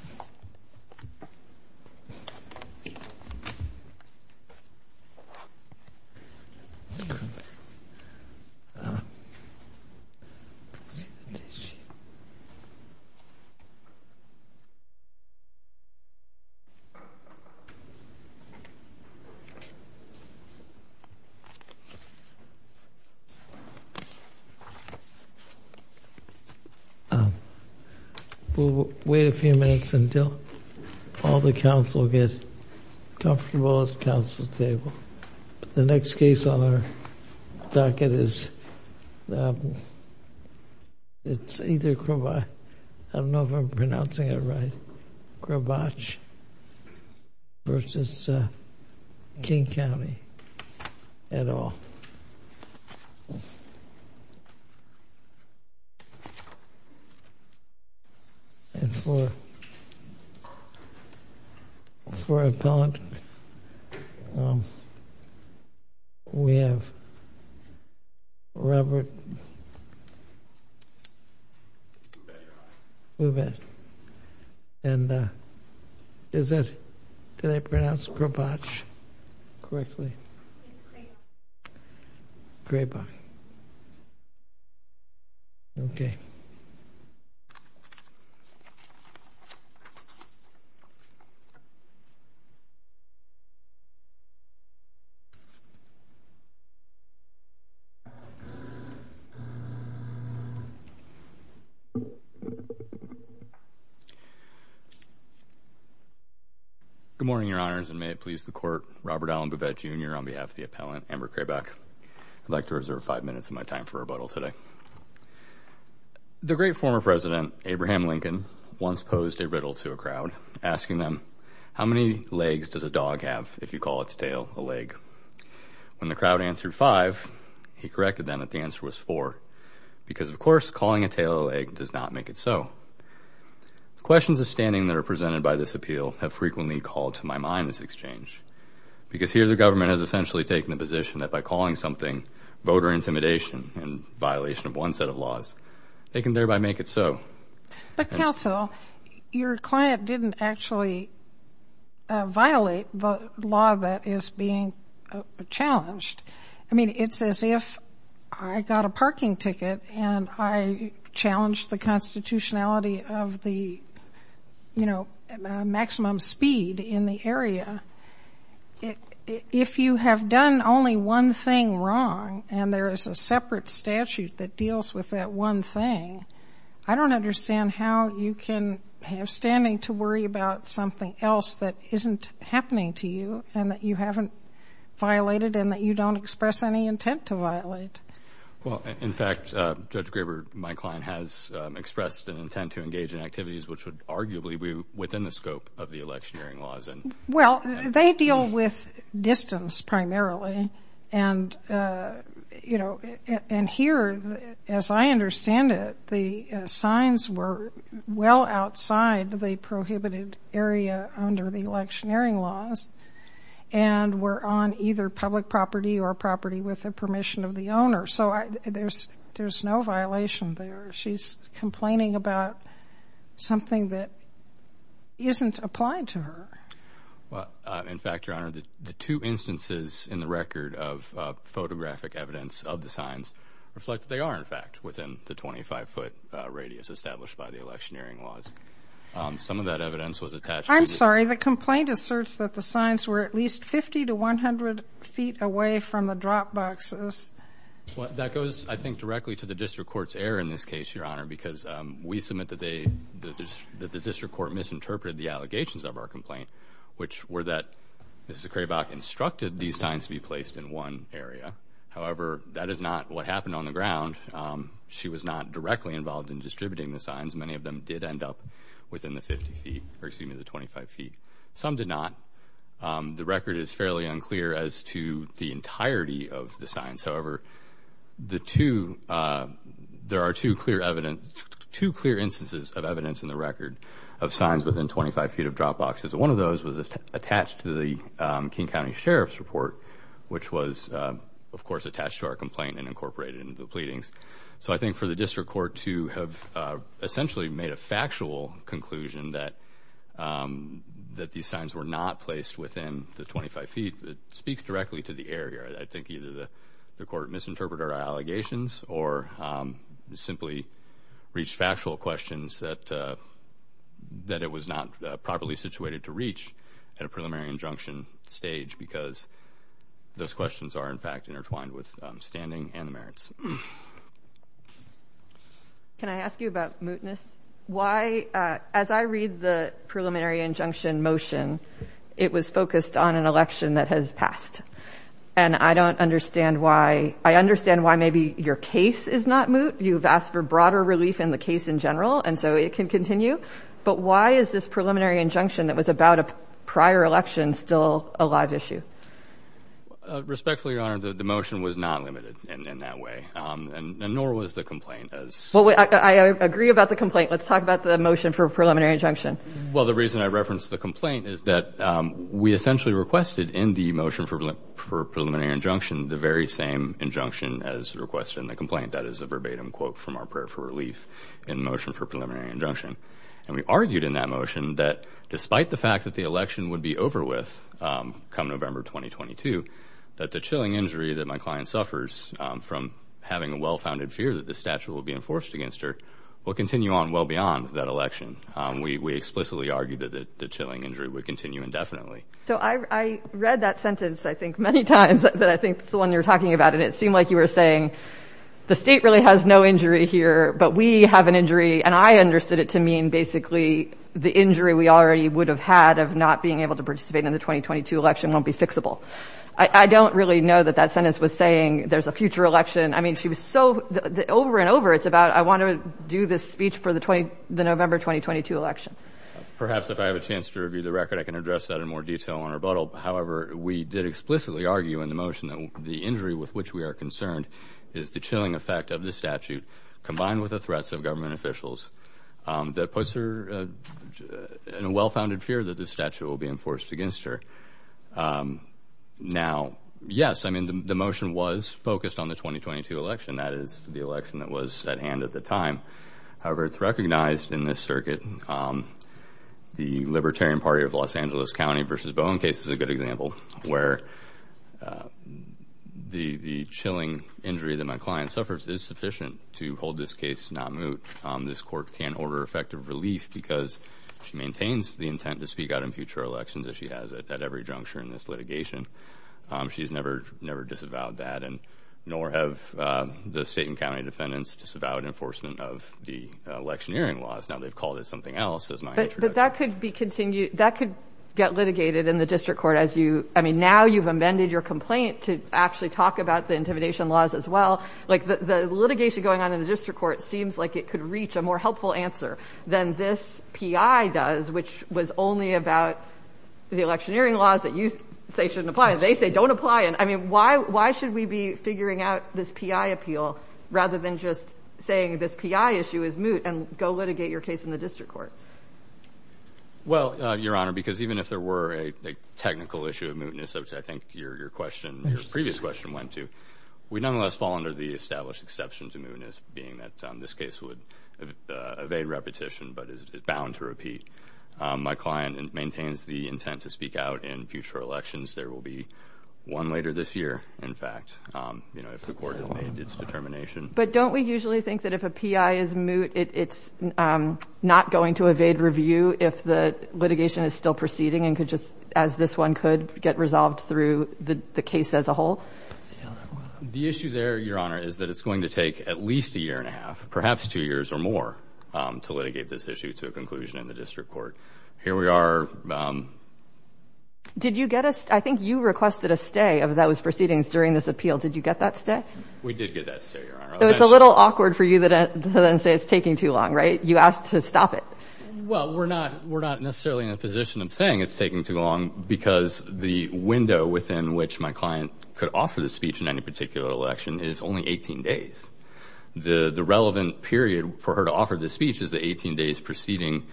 Wow. So, until all the council get comfortable at the council table, the next case on our docket is, it's either Kravach, I don't know if I'm pronouncing it right, Kravach versus King County at all. And for, for appellant, we have Robert, and is it, did I pronounce Kravach correctly? It's Kravach. Kravach. Okay. Good morning, your honors. And may it please the court, Robert Allen Bouvette Jr. On behalf of the appellant, Amber Kravach, I'd like to reserve five minutes of my time for rebuttal today. The great former president, Abraham Lincoln, once posed a riddle to a crowd, asking them, how many legs does a dog have if you call its tail a leg? When the crowd answered five, he corrected them that the answer was four. Because of course, calling a tail a leg does not make it so. Questions of standing that are presented by this appeal have frequently called to my mind this exchange. Because here the government has essentially taken the position that by calling something voter intimidation in violation of one set of laws, they can thereby make it so. But counsel, your client didn't actually violate the law that is being challenged. I mean, it's as if I got a parking ticket and I challenged the constitutionality of the, you know, maximum speed in the area. If you have done only one thing wrong and there is a separate statute that deals with that one thing, I don't understand how you can have standing to worry about something else that isn't happening to you and that you haven't violated and that you don't express any intent to violate. Well, in fact, Judge Graber, my client, has expressed an intent to engage in activities which would arguably be within the scope of the electioneering laws. Well, they deal with distance primarily. And here, as I understand it, the signs were well outside the prohibited area under the electioneering laws and were on either public property or property with the permission of the owner. So there's no violation there. She's complaining about something that isn't applied to her. Well, in fact, Your Honor, the two instances in the record of photographic evidence of the signs reflect that they are, in fact, within the 25-foot radius established by the electioneering laws. Some of that evidence was attached to the ---- I'm sorry. The complaint asserts that the signs were at least 50 to 100 feet away from the drop boxes. Well, that goes, I think, directly to the district court's error in this case, Your Honor, because we submit that the district court misinterpreted the allegations of our complaint, which were that Mrs. Kraybach instructed these signs to be placed in one area. However, that is not what happened on the ground. She was not directly involved in distributing the signs. Many of them did end up within the 50 feet or, excuse me, the 25 feet. Some did not. The record is fairly unclear as to the entirety of the signs. However, there are two clear instances of evidence in the record of signs within 25 feet of drop boxes. One of those was attached to the King County Sheriff's report, which was, of course, attached to our complaint and incorporated into the pleadings. So I think for the district court to have essentially made a factual conclusion that these signs were not placed within the 25 feet, it speaks directly to the error here. I think either the court misinterpreted our allegations or simply reached factual questions that it was not properly situated to reach at a preliminary injunction stage because those questions are, in fact, intertwined with standing and the merits. Can I ask you about mootness? Why, as I read the preliminary injunction motion, it was focused on an election that has passed. And I don't understand why. I understand why maybe your case is not moot. You've asked for broader relief in the case in general, and so it can continue. But why is this preliminary injunction that was about a prior election still a live issue? Respectfully, Your Honor, the motion was not limited in that way, and nor was the complaint. Well, I agree about the complaint. Let's talk about the motion for preliminary injunction. Well, the reason I referenced the complaint is that we essentially requested in the motion for preliminary injunction the very same injunction as requested in the complaint. That is a verbatim quote from our prayer for relief in the motion for preliminary injunction. And we argued in that motion that despite the fact that the election would be over with come November 2022, that the chilling injury that my client suffers from having a well-founded fear that this statute will be enforced against her will continue on well beyond that election. We explicitly argued that the chilling injury would continue indefinitely. So I read that sentence, I think, many times that I think is the one you're talking about, and it seemed like you were saying the State really has no injury here, but we have an injury and I understood it to mean basically the injury we already would have had of not being able to participate in the 2022 election won't be fixable. I don't really know that that sentence was saying there's a future election. I mean, she was so over and over. It's about I want to do this speech for the November 2022 election. Perhaps if I have a chance to review the record, I can address that in more detail on rebuttal. However, we did explicitly argue in the motion that the injury with which we are concerned is the chilling effect of the statute, combined with the threats of government officials that puts her in a well-founded fear that the statute will be enforced against her. Now, yes, I mean, the motion was focused on the 2022 election. That is the election that was at hand at the time. However, it's recognized in this circuit the Libertarian Party of Los Angeles County versus Bowen case is a good example where the chilling injury that my client suffers is sufficient to hold this case not moot. This court can order effective relief because she maintains the intent to speak out in future elections, as she has at every juncture in this litigation. She's never, never disavowed that. And nor have the state and county defendants disavowed enforcement of the electioneering laws. Now they've called it something else. But that could be continued. That could get litigated in the district court as you I mean, now you've amended your complaint to actually talk about the intimidation laws as well. Like the litigation going on in the district court seems like it could reach a more helpful answer than this P.I. does, which was only about the electioneering laws that you say shouldn't apply. They say don't apply. And I mean, why? Why should we be figuring out this P.I. appeal rather than just saying this P.I. issue is moot and go litigate your case in the district court? Well, Your Honor, because even if there were a technical issue of mootness, I think your question previous question went to we nonetheless fall under the established exception to mootness, being that this case would evade repetition but is bound to repeat. My client maintains the intent to speak out in future elections. There will be one later this year, in fact, if the court has made its determination. But don't we usually think that if a P.I. is moot, it's not going to evade review if the litigation is still proceeding and could just as this one could get resolved through the case as a whole? The issue there, Your Honor, is that it's going to take at least a year and a half, perhaps two years or more, to litigate this issue to a conclusion in the district court. Here we are. Did you get a – I think you requested a stay of those proceedings during this appeal. Did you get that stay? We did get that stay, Your Honor. So it's a little awkward for you to then say it's taking too long, right? You asked to stop it. Well, we're not necessarily in a position of saying it's taking too long because the window within which my client could offer this speech in any particular election is only 18 days. The relevant period for her to offer this speech is the 18 days preceding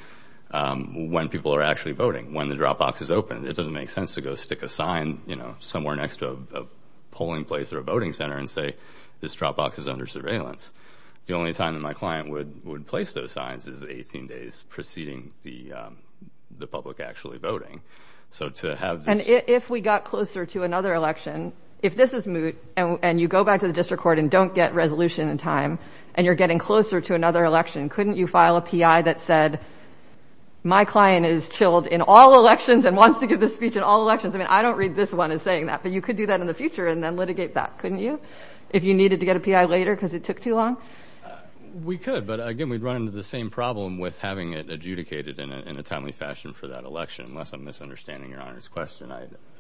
when people are actually voting, when the drop box is open. It doesn't make sense to go stick a sign somewhere next to a polling place or a voting center and say this drop box is under surveillance. The only time that my client would place those signs is the 18 days preceding the public actually voting. So to have this – And if we got closer to another election, if this is moot and you go back to the district court and don't get resolution in time and you're getting closer to another election, couldn't you file a PI that said my client is chilled in all elections and wants to give this speech in all elections? I mean, I don't read this one as saying that, but you could do that in the future and then litigate that, couldn't you, if you needed to get a PI later because it took too long? We could, but, again, we'd run into the same problem with having it adjudicated in a timely fashion for that election, unless I'm misunderstanding Your Honor's question.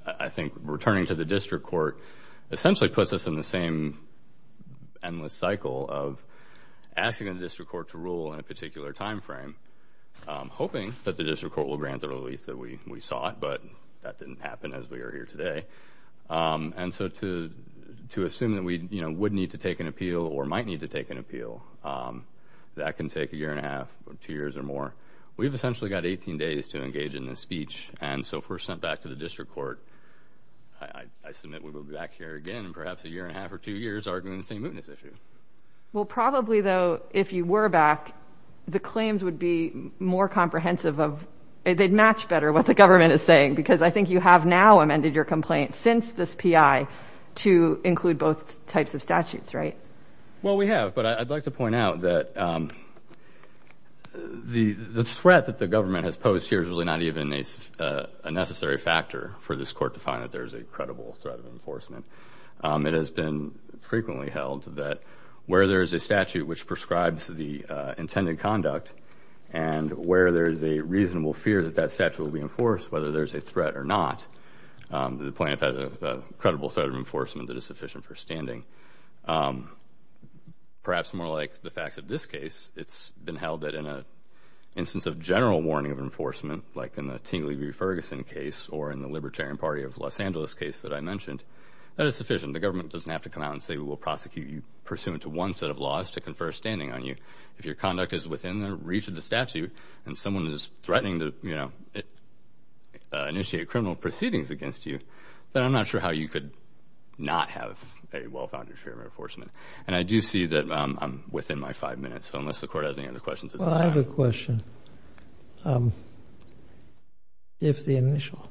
I think returning to the district court essentially puts us in the same endless cycle of asking the district court to rule in a particular time frame, hoping that the district court will grant the relief that we sought, but that didn't happen as we are here today. And so to assume that we would need to take an appeal or might need to take an appeal, that can take a year and a half or two years or more. We've essentially got 18 days to engage in this speech, and so if we're sent back to the district court, I submit we will be back here again in perhaps a year and a half or two years arguing the same mootness issue. Well, probably, though, if you were back, the claims would be more comprehensive. They'd match better what the government is saying because I think you have now amended your complaint since this PI to include both types of statutes, right? Well, we have, but I'd like to point out that the threat that the government has posed here is really not even a necessary factor for this court to find that there is a credible threat of enforcement. It has been frequently held that where there is a statute which prescribes the intended conduct and where there is a reasonable fear that that statute will be enforced, whether there is a threat or not, the plaintiff has a credible threat of enforcement that is sufficient for standing. Perhaps more like the facts of this case, it's been held that in an instance of general warning of enforcement, like in the Tingley v. Ferguson case or in the Libertarian Party of Los Angeles case that I mentioned, that is sufficient. The government doesn't have to come out and say we will prosecute you pursuant to one set of laws to confer standing on you. If your conduct is within the reach of the statute and someone is threatening to initiate criminal proceedings against you, then I'm not sure how you could not have a well-founded fear of enforcement. And I do see that I'm within my five minutes, so unless the court has any other questions at this time. Well, I have a question. If the initial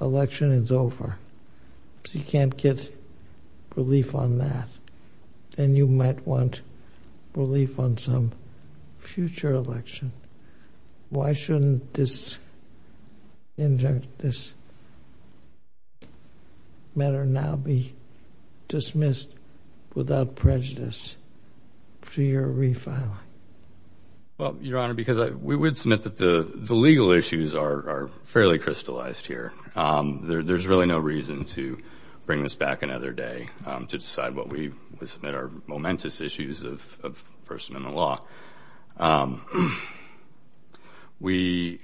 election is over, if you can't get relief on that, then you might want relief on some future election. Why shouldn't this matter now be dismissed without prejudice to your refiling? Well, Your Honor, because we would submit that the legal issues are fairly crystallized here. There's really no reason to bring this back another day to decide what we submit are momentous issues of a person in the law. We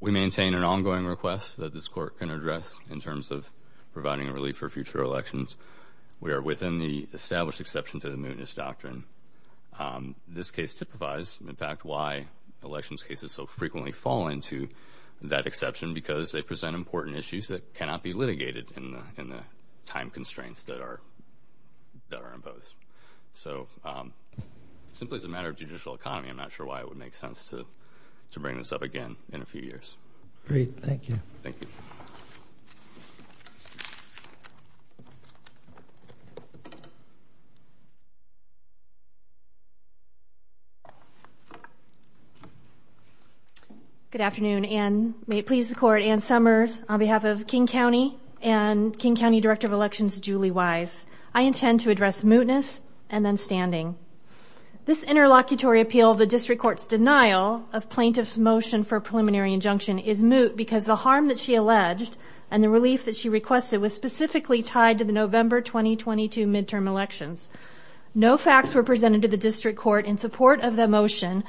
maintain an ongoing request that this Court can address in terms of providing relief for future elections. We are within the established exception to the mootness doctrine. This case typifies, in fact, why elections cases so frequently fall into that exception because they present important issues that cannot be litigated in the time constraints that are imposed. So simply as a matter of judicial economy, I'm not sure why it would make sense to bring this up again in a few years. Great. Thank you. Thank you. Good afternoon. And may it please the Court, Anne Summers, on behalf of King County and King County Director of Elections, Julie Wise. I intend to address mootness and then standing. This interlocutory appeal of the District Court's denial of plaintiff's motion for preliminary injunction is moot because the harm that she alleged and the relief that she requested was specifically tied to the November 2022 midterm elections. No facts were presented to the District Court in support of the motion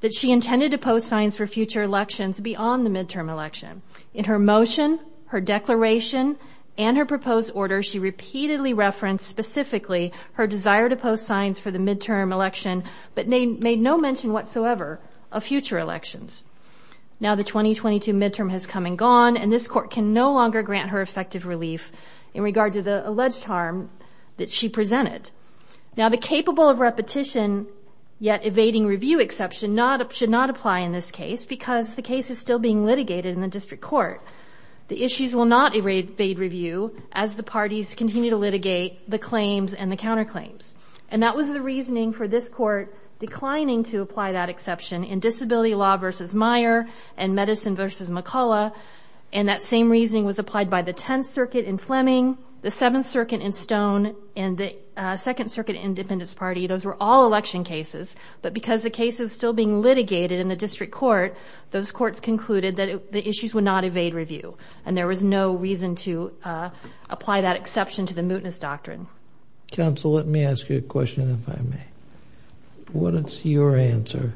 that she intended to post signs for future elections beyond the midterm election. In her motion, her declaration, and her proposed order, she repeatedly referenced specifically her desire to post signs for the midterm election but made no mention whatsoever of future elections. Now the 2022 midterm has come and gone, and this Court can no longer grant her effective relief in regard to the alleged harm that she presented. Now the capable of repetition yet evading review exception should not apply in this case because the case is still being litigated in the District Court. The issues will not evade review as the parties continue to litigate the claims and the counterclaims. And that was the reasoning for this Court declining to apply that exception in Disability Law v. Meyer and Medicine v. McCullough, and that same reasoning was applied by the Tenth Circuit in Fleming, the Seventh Circuit in Stone, and the Second Circuit Independence Party. Those were all election cases, but because the case is still being litigated in the District Court, those courts concluded that the issues would not evade review, and there was no reason to apply that exception to the mootness doctrine. Counsel, let me ask you a question if I may. What is your answer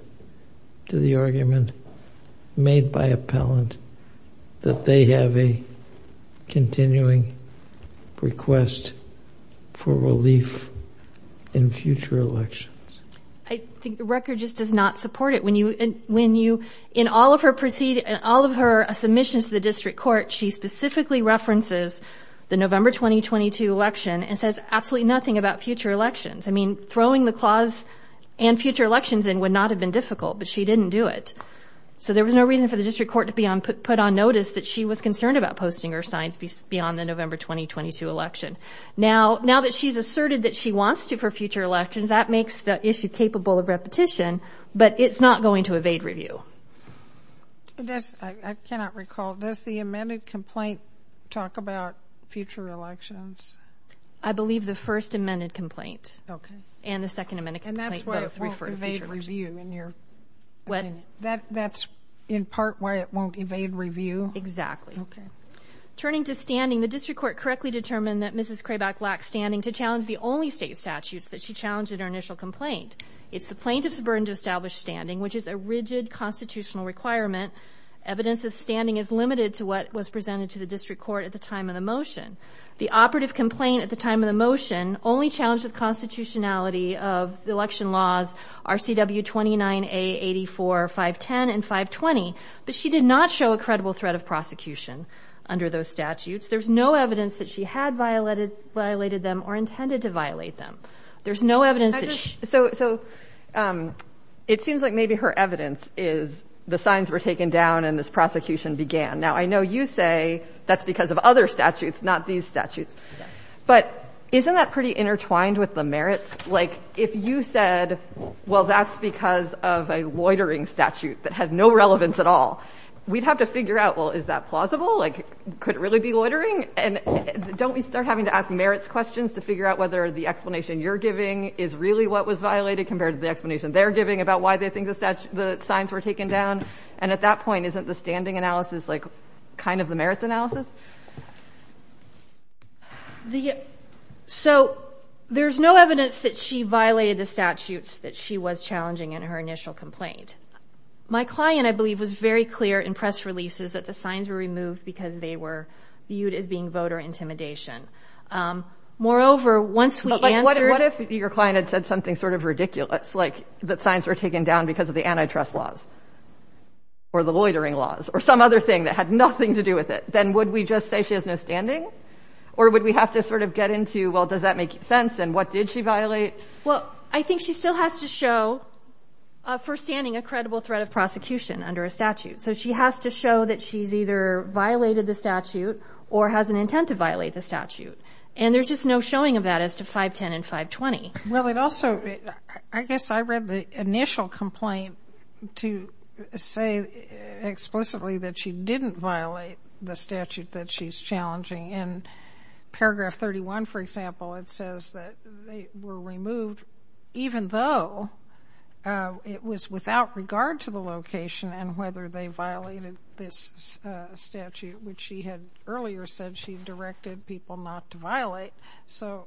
to the argument made by appellant that they have a continuing request for relief in future elections? I think the record just does not support it. When you, in all of her submissions to the District Court, she specifically references the November 2022 election and says absolutely nothing about future elections. I mean, throwing the clause and future elections in would not have been difficult, but she didn't do it. So there was no reason for the District Court to put on notice that she was concerned about posting her signs beyond the November 2022 election. Now that she's asserted that she wants to for future elections, that makes the issue capable of repetition, but it's not going to evade review. I cannot recall. Does the amended complaint talk about future elections? I believe the first amended complaint and the second amended complaint both refer to future elections. That's in part why it won't evade review? Exactly. Okay. Turning to standing, the District Court correctly determined that Mrs. Craback lacked standing to challenge the only state statutes that she challenged in her initial complaint. It's the plaintiff's burden to establish standing, which is a rigid constitutional requirement. Evidence of standing is limited to what was presented to the District Court at the time of the motion. The operative complaint at the time of the motion only challenged the constitutionality of the election laws RCW 29A84-510 and 520, but she did not show a credible threat of prosecution under those statutes. There's no evidence that she had violated them or intended to violate them. There's no evidence that she – So it seems like maybe her evidence is the signs were taken down and this prosecution began. Now I know you say that's because of other statutes, not these statutes. Yes. But isn't that pretty intertwined with the merits? Like if you said, well, that's because of a loitering statute that had no relevance at all, we'd have to figure out, well, is that plausible? Like could it really be loitering? And don't we start having to ask merits questions to figure out whether the explanation you're giving is really what was violated compared to the explanation they're giving about why they think the signs were taken down? And at that point, isn't the standing analysis like kind of the merits analysis? So there's no evidence that she violated the statutes that she was challenging in her initial complaint. My client, I believe, was very clear in press releases that the signs were removed because they were viewed as being voter intimidation. Moreover, once we answered – But like what if your client had said something sort of ridiculous, like that signs were taken down because of the antitrust laws or the loitering laws or some other thing that had nothing to do with it? Then would we just say she has no standing? Or would we have to sort of get into, well, does that make sense? And what did she violate? Well, I think she still has to show for standing a credible threat of prosecution under a statute. So she has to show that she's either violated the statute or has an intent to violate the statute. And there's just no showing of that as to 510 and 520. Well, it also – I guess I read the initial complaint to say explicitly that she didn't violate the statute that she's challenging. In paragraph 31, for example, it says that they were removed even though it was without regard to the location and whether they violated this statute, which she had earlier said she directed people not to violate. So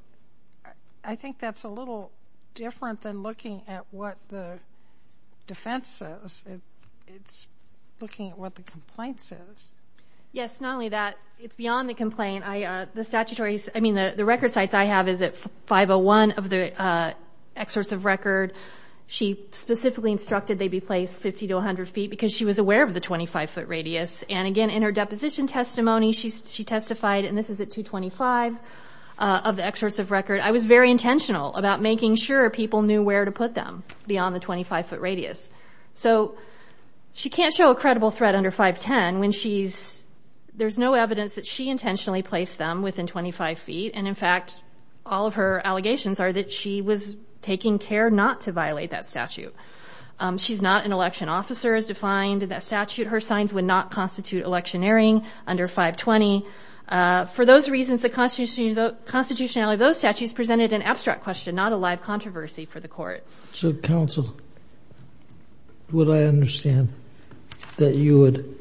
I think that's a little different than looking at what the defense says. It's looking at what the complaint says. Yes, not only that. It's beyond the complaint. I mean, the record sites I have is at 501 of the excursive record. She specifically instructed they be placed 50 to 100 feet because she was aware of the 25-foot radius. And again, in her deposition testimony, she testified, and this is at 225 of the excursive record, I was very intentional about making sure people knew where to put them beyond the 25-foot radius. So she can't show a credible threat under 510 when she's – there's no evidence that she intentionally placed them within 25 feet. And, in fact, all of her allegations are that she was taking care not to violate that statute. She's not an election officer. It's defined in that statute her signs would not constitute electioneering under 520. For those reasons, the constitutionality of those statutes presented an abstract question, not a live controversy for the court. So, counsel, would I understand that you would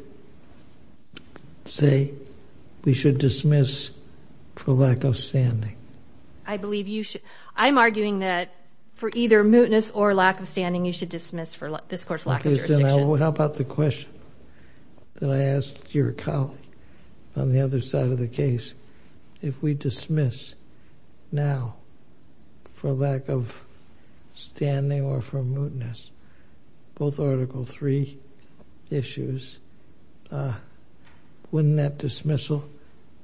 say we should dismiss for lack of standing? I believe you should. I'm arguing that for either mootness or lack of standing, you should dismiss for this court's lack of jurisdiction. Okay. Then how about the question that I asked your colleague on the other side of the case? If we dismiss now for lack of standing or for mootness, both Article III issues, wouldn't that dismissal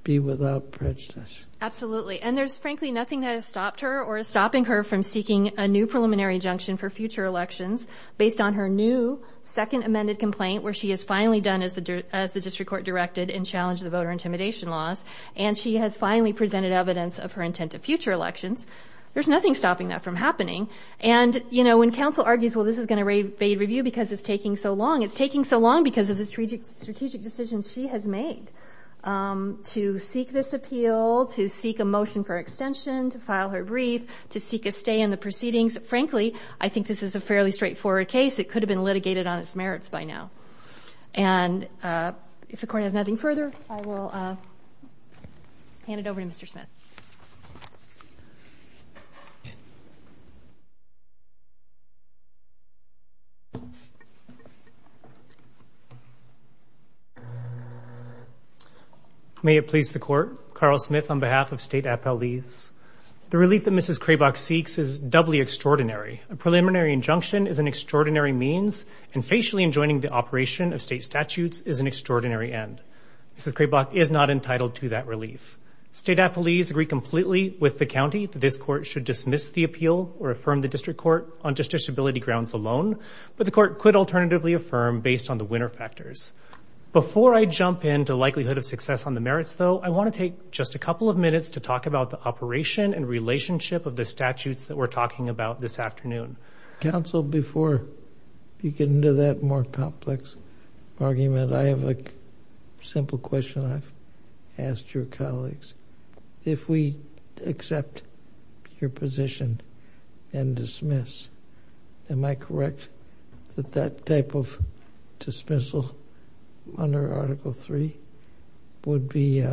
be without prejudice? And there's, frankly, nothing that has stopped her or is stopping her from seeking a new preliminary injunction for future elections based on her new second amended complaint where she has finally done as the district court directed and challenged the voter intimidation laws, and she has finally presented evidence of her intent to future elections. There's nothing stopping that from happening. And when counsel argues, well, this is going to evade review because it's taking so long, it's taking so long because of the strategic decisions she has made to seek this appeal, to seek a motion for extension, to file her brief, to seek a stay in the proceedings. Frankly, I think this is a fairly straightforward case. It could have been litigated on its merits by now. And if the Court has nothing further, I will hand it over to Mr. Smith. May it please the Court. Carl Smith on behalf of State Appellees. The relief that Mrs. Craibach seeks is doubly extraordinary. A preliminary injunction is an extraordinary means and facially enjoining the operation of state statutes is an extraordinary end. Mrs. Craibach is not entitled to that relief. State Appellees agree completely with the county that this Court should dismiss the appeal or affirm the district court on just disability grounds alone, but the Court could alternatively affirm based on the winner factors. Before I jump into likelihood of success on the merits, though, I want to take just a couple of minutes to talk about the operation and relationship of the statutes that we're talking about this afternoon. Counsel, before you get into that more complex argument, I have a simple question I've asked your colleagues. If we accept your position and dismiss, am I correct that that type of dismissal under Article III would be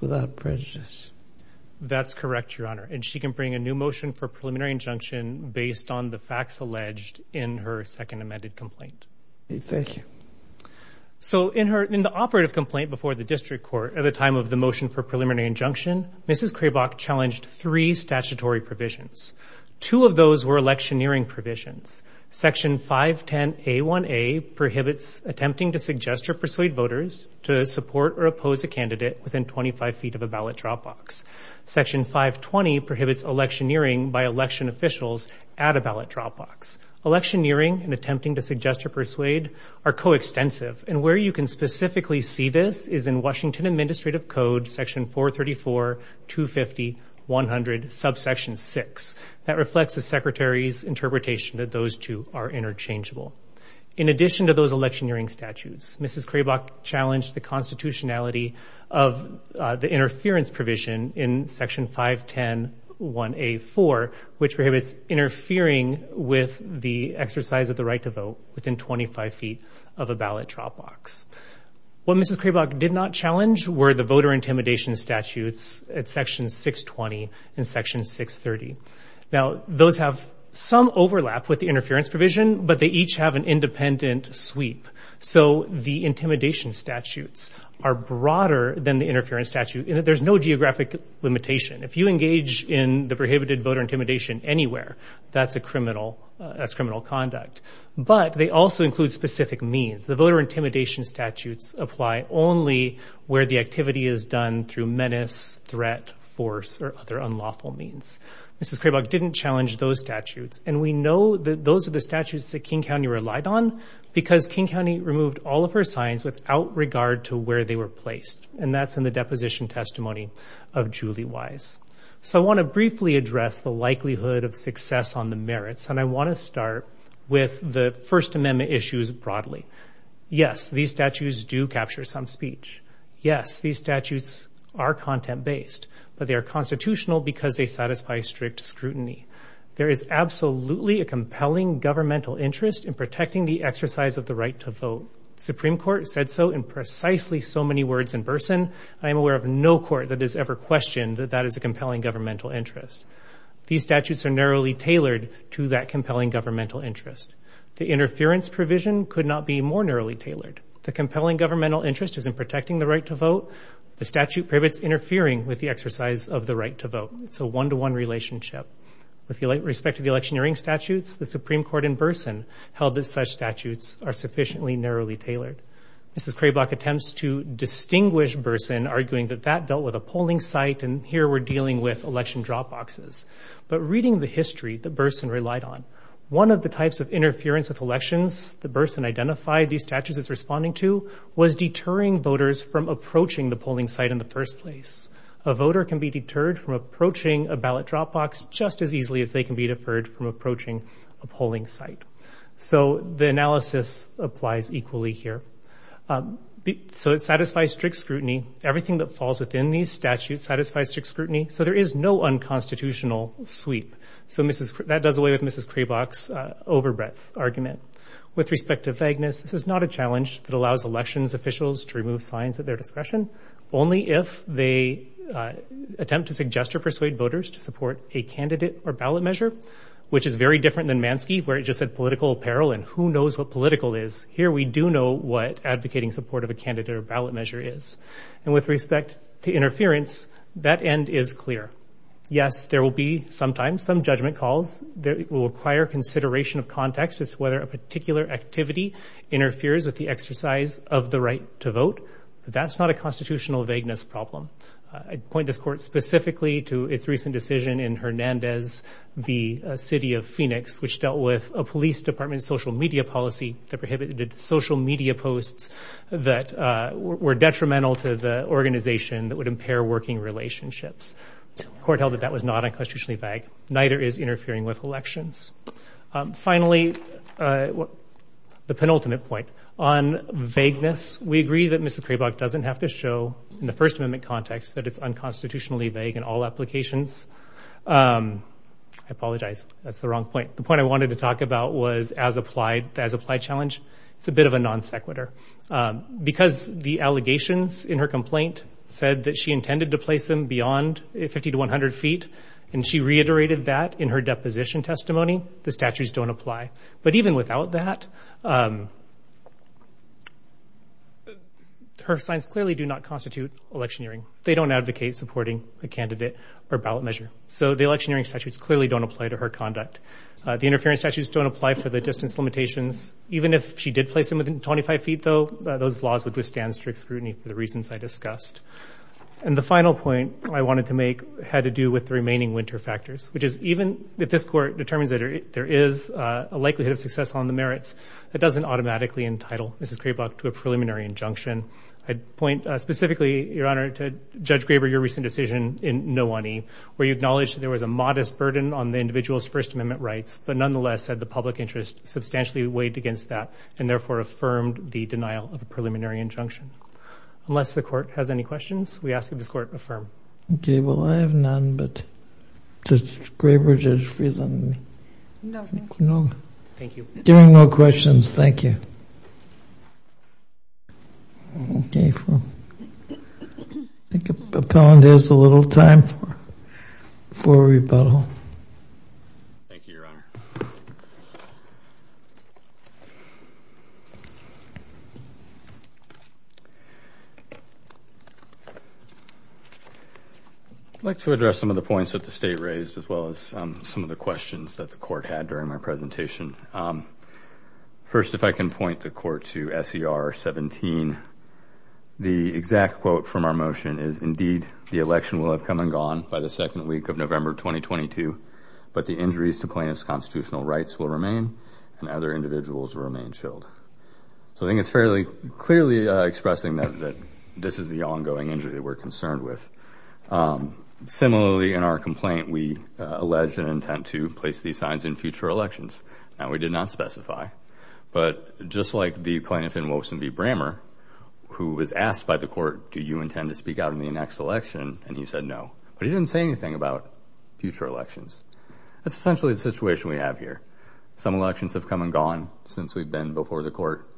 without prejudice? That's correct, Your Honor. And she can bring a new motion for preliminary injunction based on the facts alleged in her second amended complaint. Thank you. So in the operative complaint before the district court at the time of the motion for preliminary injunction, Mrs. Craibach challenged three statutory provisions. Two of those were electioneering provisions. Section 510A1A prohibits attempting to suggest or persuade voters to support or oppose a candidate within 25 feet of a ballot drop box. Section 520 prohibits electioneering by election officials at a ballot drop box. Electioneering and attempting to suggest or persuade are coextensive, and where you can specifically see this is in Washington Administrative Code, Section 434, 250, 100, subsection 6. That reflects the Secretary's interpretation that those two are interchangeable. In addition to those electioneering statutes, Mrs. Craibach challenged the constitutionality of the interference provision in Section 5101A4, which prohibits interfering with the exercise of the right to vote within 25 feet of a ballot drop box. What Mrs. Craibach did not challenge were the voter intimidation statutes at Section 620 and Section 630. Now, those have some overlap with the interference provision, but they each have an independent sweep. So the intimidation statutes are broader than the interference statute. There's no geographic limitation. If you engage in the prohibited voter intimidation anywhere, that's criminal conduct. But they also include specific means. The voter intimidation statutes apply only where the activity is done through menace, threat, force, or other unlawful means. Mrs. Craibach didn't challenge those statutes, and we know that those are the statutes that King County relied on because King County removed all of her signs without regard to where they were placed, and that's in the deposition testimony of Julie Wise. So I want to briefly address the likelihood of success on the merits, and I want to start with the First Amendment issues broadly. Yes, these statutes do capture some speech. Yes, these statutes are content-based, but they are constitutional because they satisfy strict scrutiny. There is absolutely a compelling governmental interest in protecting the exercise of the right to vote. The Supreme Court said so in precisely so many words in Burson. I am aware of no court that has ever questioned that that is a compelling governmental interest. These statutes are narrowly tailored to that compelling governmental interest. The interference provision could not be more narrowly tailored. The compelling governmental interest is in protecting the right to vote. The statute prohibits interfering with the exercise of the right to vote. It's a one-to-one relationship. With respect to the electioneering statutes, the Supreme Court in Burson held that such statutes are sufficiently narrowly tailored. Mrs. Craiblock attempts to distinguish Burson, arguing that that dealt with a polling site, and here we're dealing with election drop boxes. But reading the history that Burson relied on, one of the types of interference with elections that Burson identified these statutes as responding to was deterring voters from approaching the polling site in the first place. A voter can be deterred from approaching a ballot drop box just as easily as they can be deferred from approaching a polling site. So the analysis applies equally here. So it satisfies strict scrutiny. Everything that falls within these statutes satisfies strict scrutiny, so there is no unconstitutional sweep. So that does away with Mrs. Craiblock's over-breath argument. With respect to vagueness, this is not a challenge that allows elections officials to remove signs at their discretion, only if they attempt to suggest or persuade voters to support a candidate or ballot measure, which is very different than Mansky, where it just said political apparel and who knows what political is. Here we do know what advocating support of a candidate or ballot measure is. And with respect to interference, that end is clear. Yes, there will be sometimes some judgment calls. It will require consideration of context as to whether a particular activity interferes with the exercise of the right to vote. But that's not a constitutional vagueness problem. I'd point this court specifically to its recent decision in Hernandez v. City of Phoenix, which dealt with a police department's social media policy that prohibited social media posts that were detrimental to the organization that would impair working relationships. The court held that that was not unconstitutionally vague. Neither is interfering with elections. Finally, the penultimate point. On vagueness, we agree that Mrs. Craibach doesn't have to show in the First Amendment context that it's unconstitutionally vague in all applications. I apologize. That's the wrong point. The point I wanted to talk about was the as-applied challenge. It's a bit of a non sequitur. Because the allegations in her complaint said that she intended to place them beyond 50 to 100 feet, and she reiterated that in her deposition testimony, the statutes don't apply. But even without that, her signs clearly do not constitute electioneering. They don't advocate supporting a candidate or ballot measure. So the electioneering statutes clearly don't apply to her conduct. The interference statutes don't apply for the distance limitations. Even if she did place them within 25 feet, though, those laws would withstand strict scrutiny for the reasons I discussed. And the final point I wanted to make had to do with the remaining winter factors, which is even if this court determines that there is a likelihood of success on the merits, it doesn't automatically entitle Mrs. Krabach to a preliminary injunction. I'd point specifically, Your Honor, to Judge Graber, your recent decision in Nowani, where you acknowledged that there was a modest burden on the individual's First Amendment rights, but nonetheless said the public interest substantially weighed against that, and therefore affirmed the denial of a preliminary injunction. Unless the court has any questions, we ask that this court affirm. Okay, well, I have none, but Judge Graber, Judge Friesland. No, thank you. No. Thank you. There are no questions. Thank you. Okay. I think the appellant has a little time for rebuttal. Thank you, Your Honor. I'd like to address some of the points that the State raised as well as some of the questions that the court had during my presentation. First, if I can point the court to S.E.R. 17. The exact quote from our motion is, Indeed, the election will have come and gone by the second week of November 2022, but the injuries to plaintiff's constitutional rights will remain and other individuals will remain chilled. So I think it's fairly clearly expressing that this is the ongoing injury that we're concerned with. Similarly, in our complaint, we alleged an intent to place these signs in future elections. Now, we did not specify. But just like the plaintiff in Wilson v. Brammer, who was asked by the court, Do you intend to speak out in the next election? And he said no. But he didn't say anything about future elections. That's essentially the situation we have here. Some elections have come and gone since we've been before the court.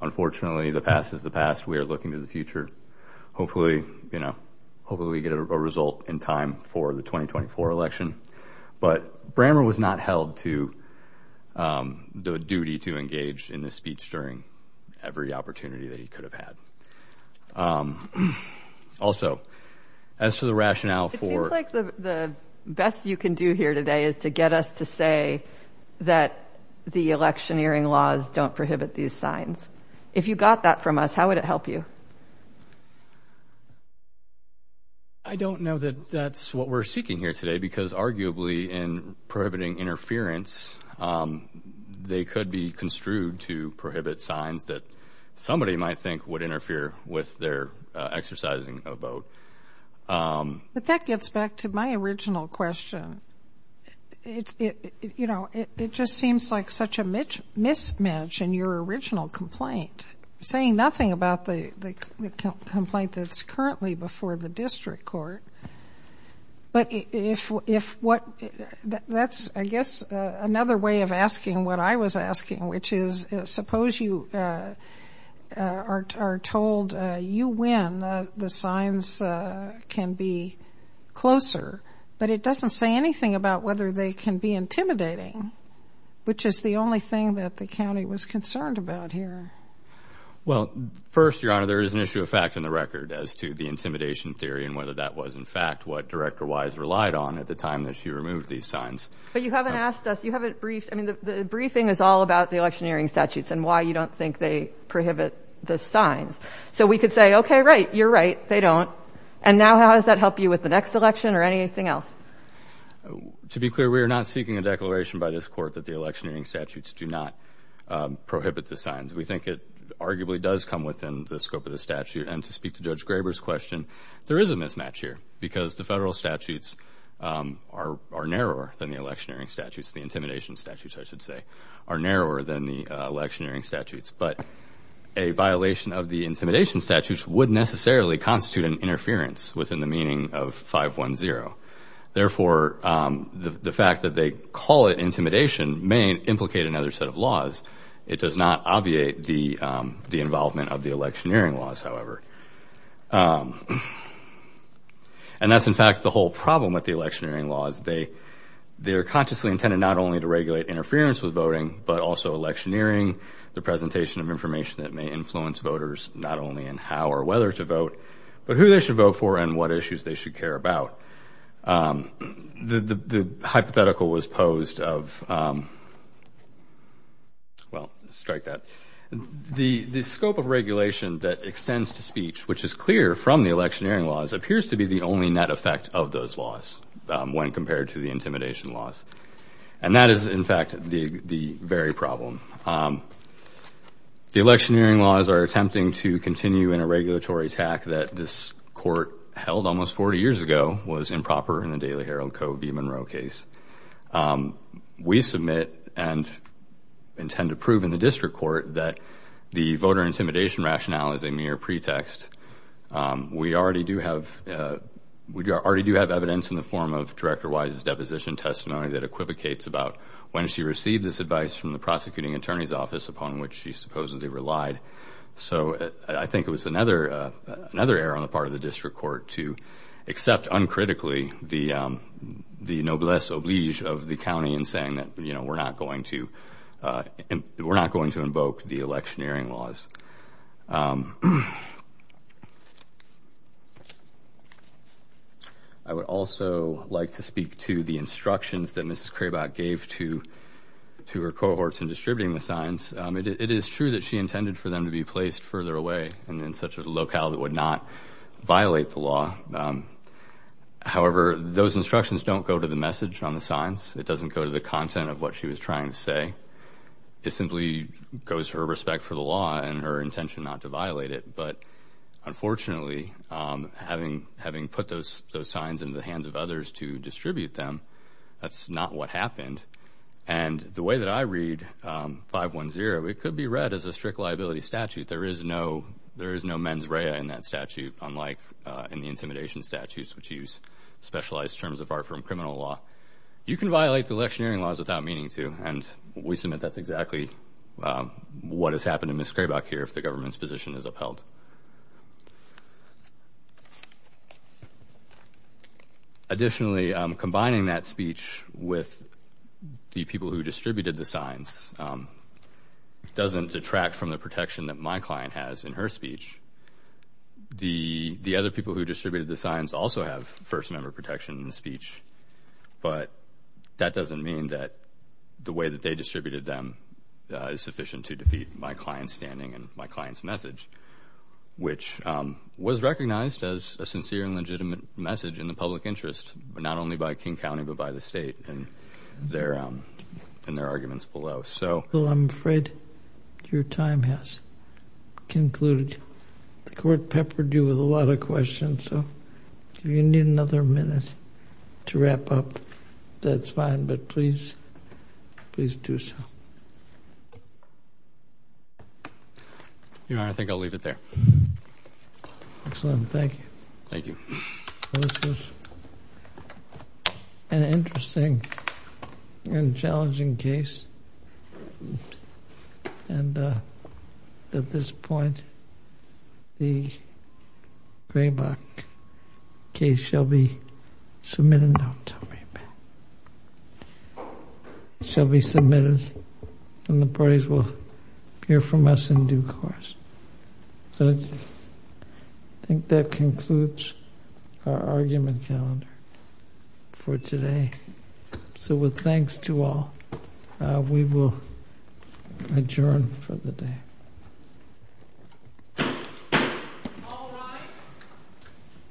Unfortunately, the past is the past. We are looking to the future. Hopefully, you know, hopefully we get a result in time for the 2024 election. But Brammer was not held to the duty to engage in this speech during every opportunity that he could have had. Also, as to the rationale for. It seems like the best you can do here today is to get us to say that the electioneering laws don't prohibit these signs. If you got that from us, how would it help you? I don't know that that's what we're seeking here today because arguably in prohibiting interference, they could be construed to prohibit signs that somebody might think would interfere with their exercising a vote. But that gets back to my original question. You know, it just seems like such a mismatch in your original complaint, saying nothing about the complaint that's currently before the district court. But that's, I guess, another way of asking what I was asking, which is suppose you are told you win, the signs can be closer, but it doesn't say anything about whether they can be intimidating, which is the only thing that the county was concerned about here. Well, first, Your Honor, there is an issue of fact in the record as to the intimidation theory and whether that was, in fact, what Director Wise relied on at the time that she removed these signs. But you haven't asked us, you haven't briefed. I mean, the briefing is all about the electioneering statutes and why you don't think they prohibit the signs. So we could say, OK, right, you're right, they don't. And now how does that help you with the next election or anything else? To be clear, we are not seeking a declaration by this court that the electioneering statutes do not prohibit the signs. We think it arguably does come within the scope of the statute. And to speak to Judge Graber's question, there is a mismatch here because the federal statutes are narrower than the electioneering statutes. The intimidation statutes, I should say, are narrower than the electioneering statutes. But a violation of the intimidation statutes would necessarily constitute an interference within the meaning of 510. Therefore, the fact that they call it intimidation may implicate another set of laws. It does not obviate the involvement of the electioneering laws, however. And that's, in fact, the whole problem with the electioneering laws. They are consciously intended not only to regulate interference with voting, but also electioneering, the presentation of information that may influence voters not only in how or whether to vote, but who they should vote for and what issues they should care about. The hypothetical was posed of, well, strike that. The scope of regulation that extends to speech, which is clear from the electioneering laws, appears to be the only net effect of those laws when compared to the intimidation laws. And that is, in fact, the very problem. The electioneering laws are attempting to continue in a regulatory tack that this Court held almost 40 years ago was improper in the Daily Herald Co. v. Monroe case. We submit and intend to prove in the District Court that the voter intimidation rationale is a mere pretext. We already do have evidence in the form of Director Wise's deposition testimony that equivocates about when she received this advice from the prosecuting attorney's office upon which she supposedly relied. So I think it was another error on the part of the District Court to accept uncritically the noblesse oblige of the county in saying that we're not going to invoke the electioneering laws. I would also like to speak to the instructions that Mrs. Craibach gave to her cohorts in distributing the signs. It is true that she intended for them to be placed further away in such a locale that would not violate the law. However, those instructions don't go to the message on the signs. It doesn't go to the content of what she was trying to say. It simply goes to her respect for the law and her intention not to violate it. But unfortunately, having put those signs into the hands of others to distribute them, that's not what happened. And the way that I read 510, it could be read as a strict liability statute. There is no mens rea in that statute, unlike in the intimidation statutes, which use specialized terms of art from criminal law. You can violate the electioneering laws without meaning to, and we submit that's exactly what has happened to Mrs. Craibach here if the government's position is upheld. Additionally, combining that speech with the people who distributed the signs doesn't detract from the protection that my client has in her speech. The other people who distributed the signs also have first-member protection in the speech, but that doesn't mean that the way that they distributed them is sufficient to defeat my client's standing and my client's message, which was recognized as a sincere and legitimate message in the public interest not only by King County but by the state in their arguments below. Well, I'm afraid your time has concluded. The Court peppered you with a lot of questions, so if you need another minute to wrap up, that's fine, but please do so. Your Honor, I think I'll leave it there. Excellent. Thank you. Thank you. This was an interesting and challenging case, and at this point the Craibach case shall be submitted. Don't tell me. It shall be submitted, and the parties will hear from us in due course. I think that concludes our argument calendar for today. So with thanks to all, we will adjourn for the day.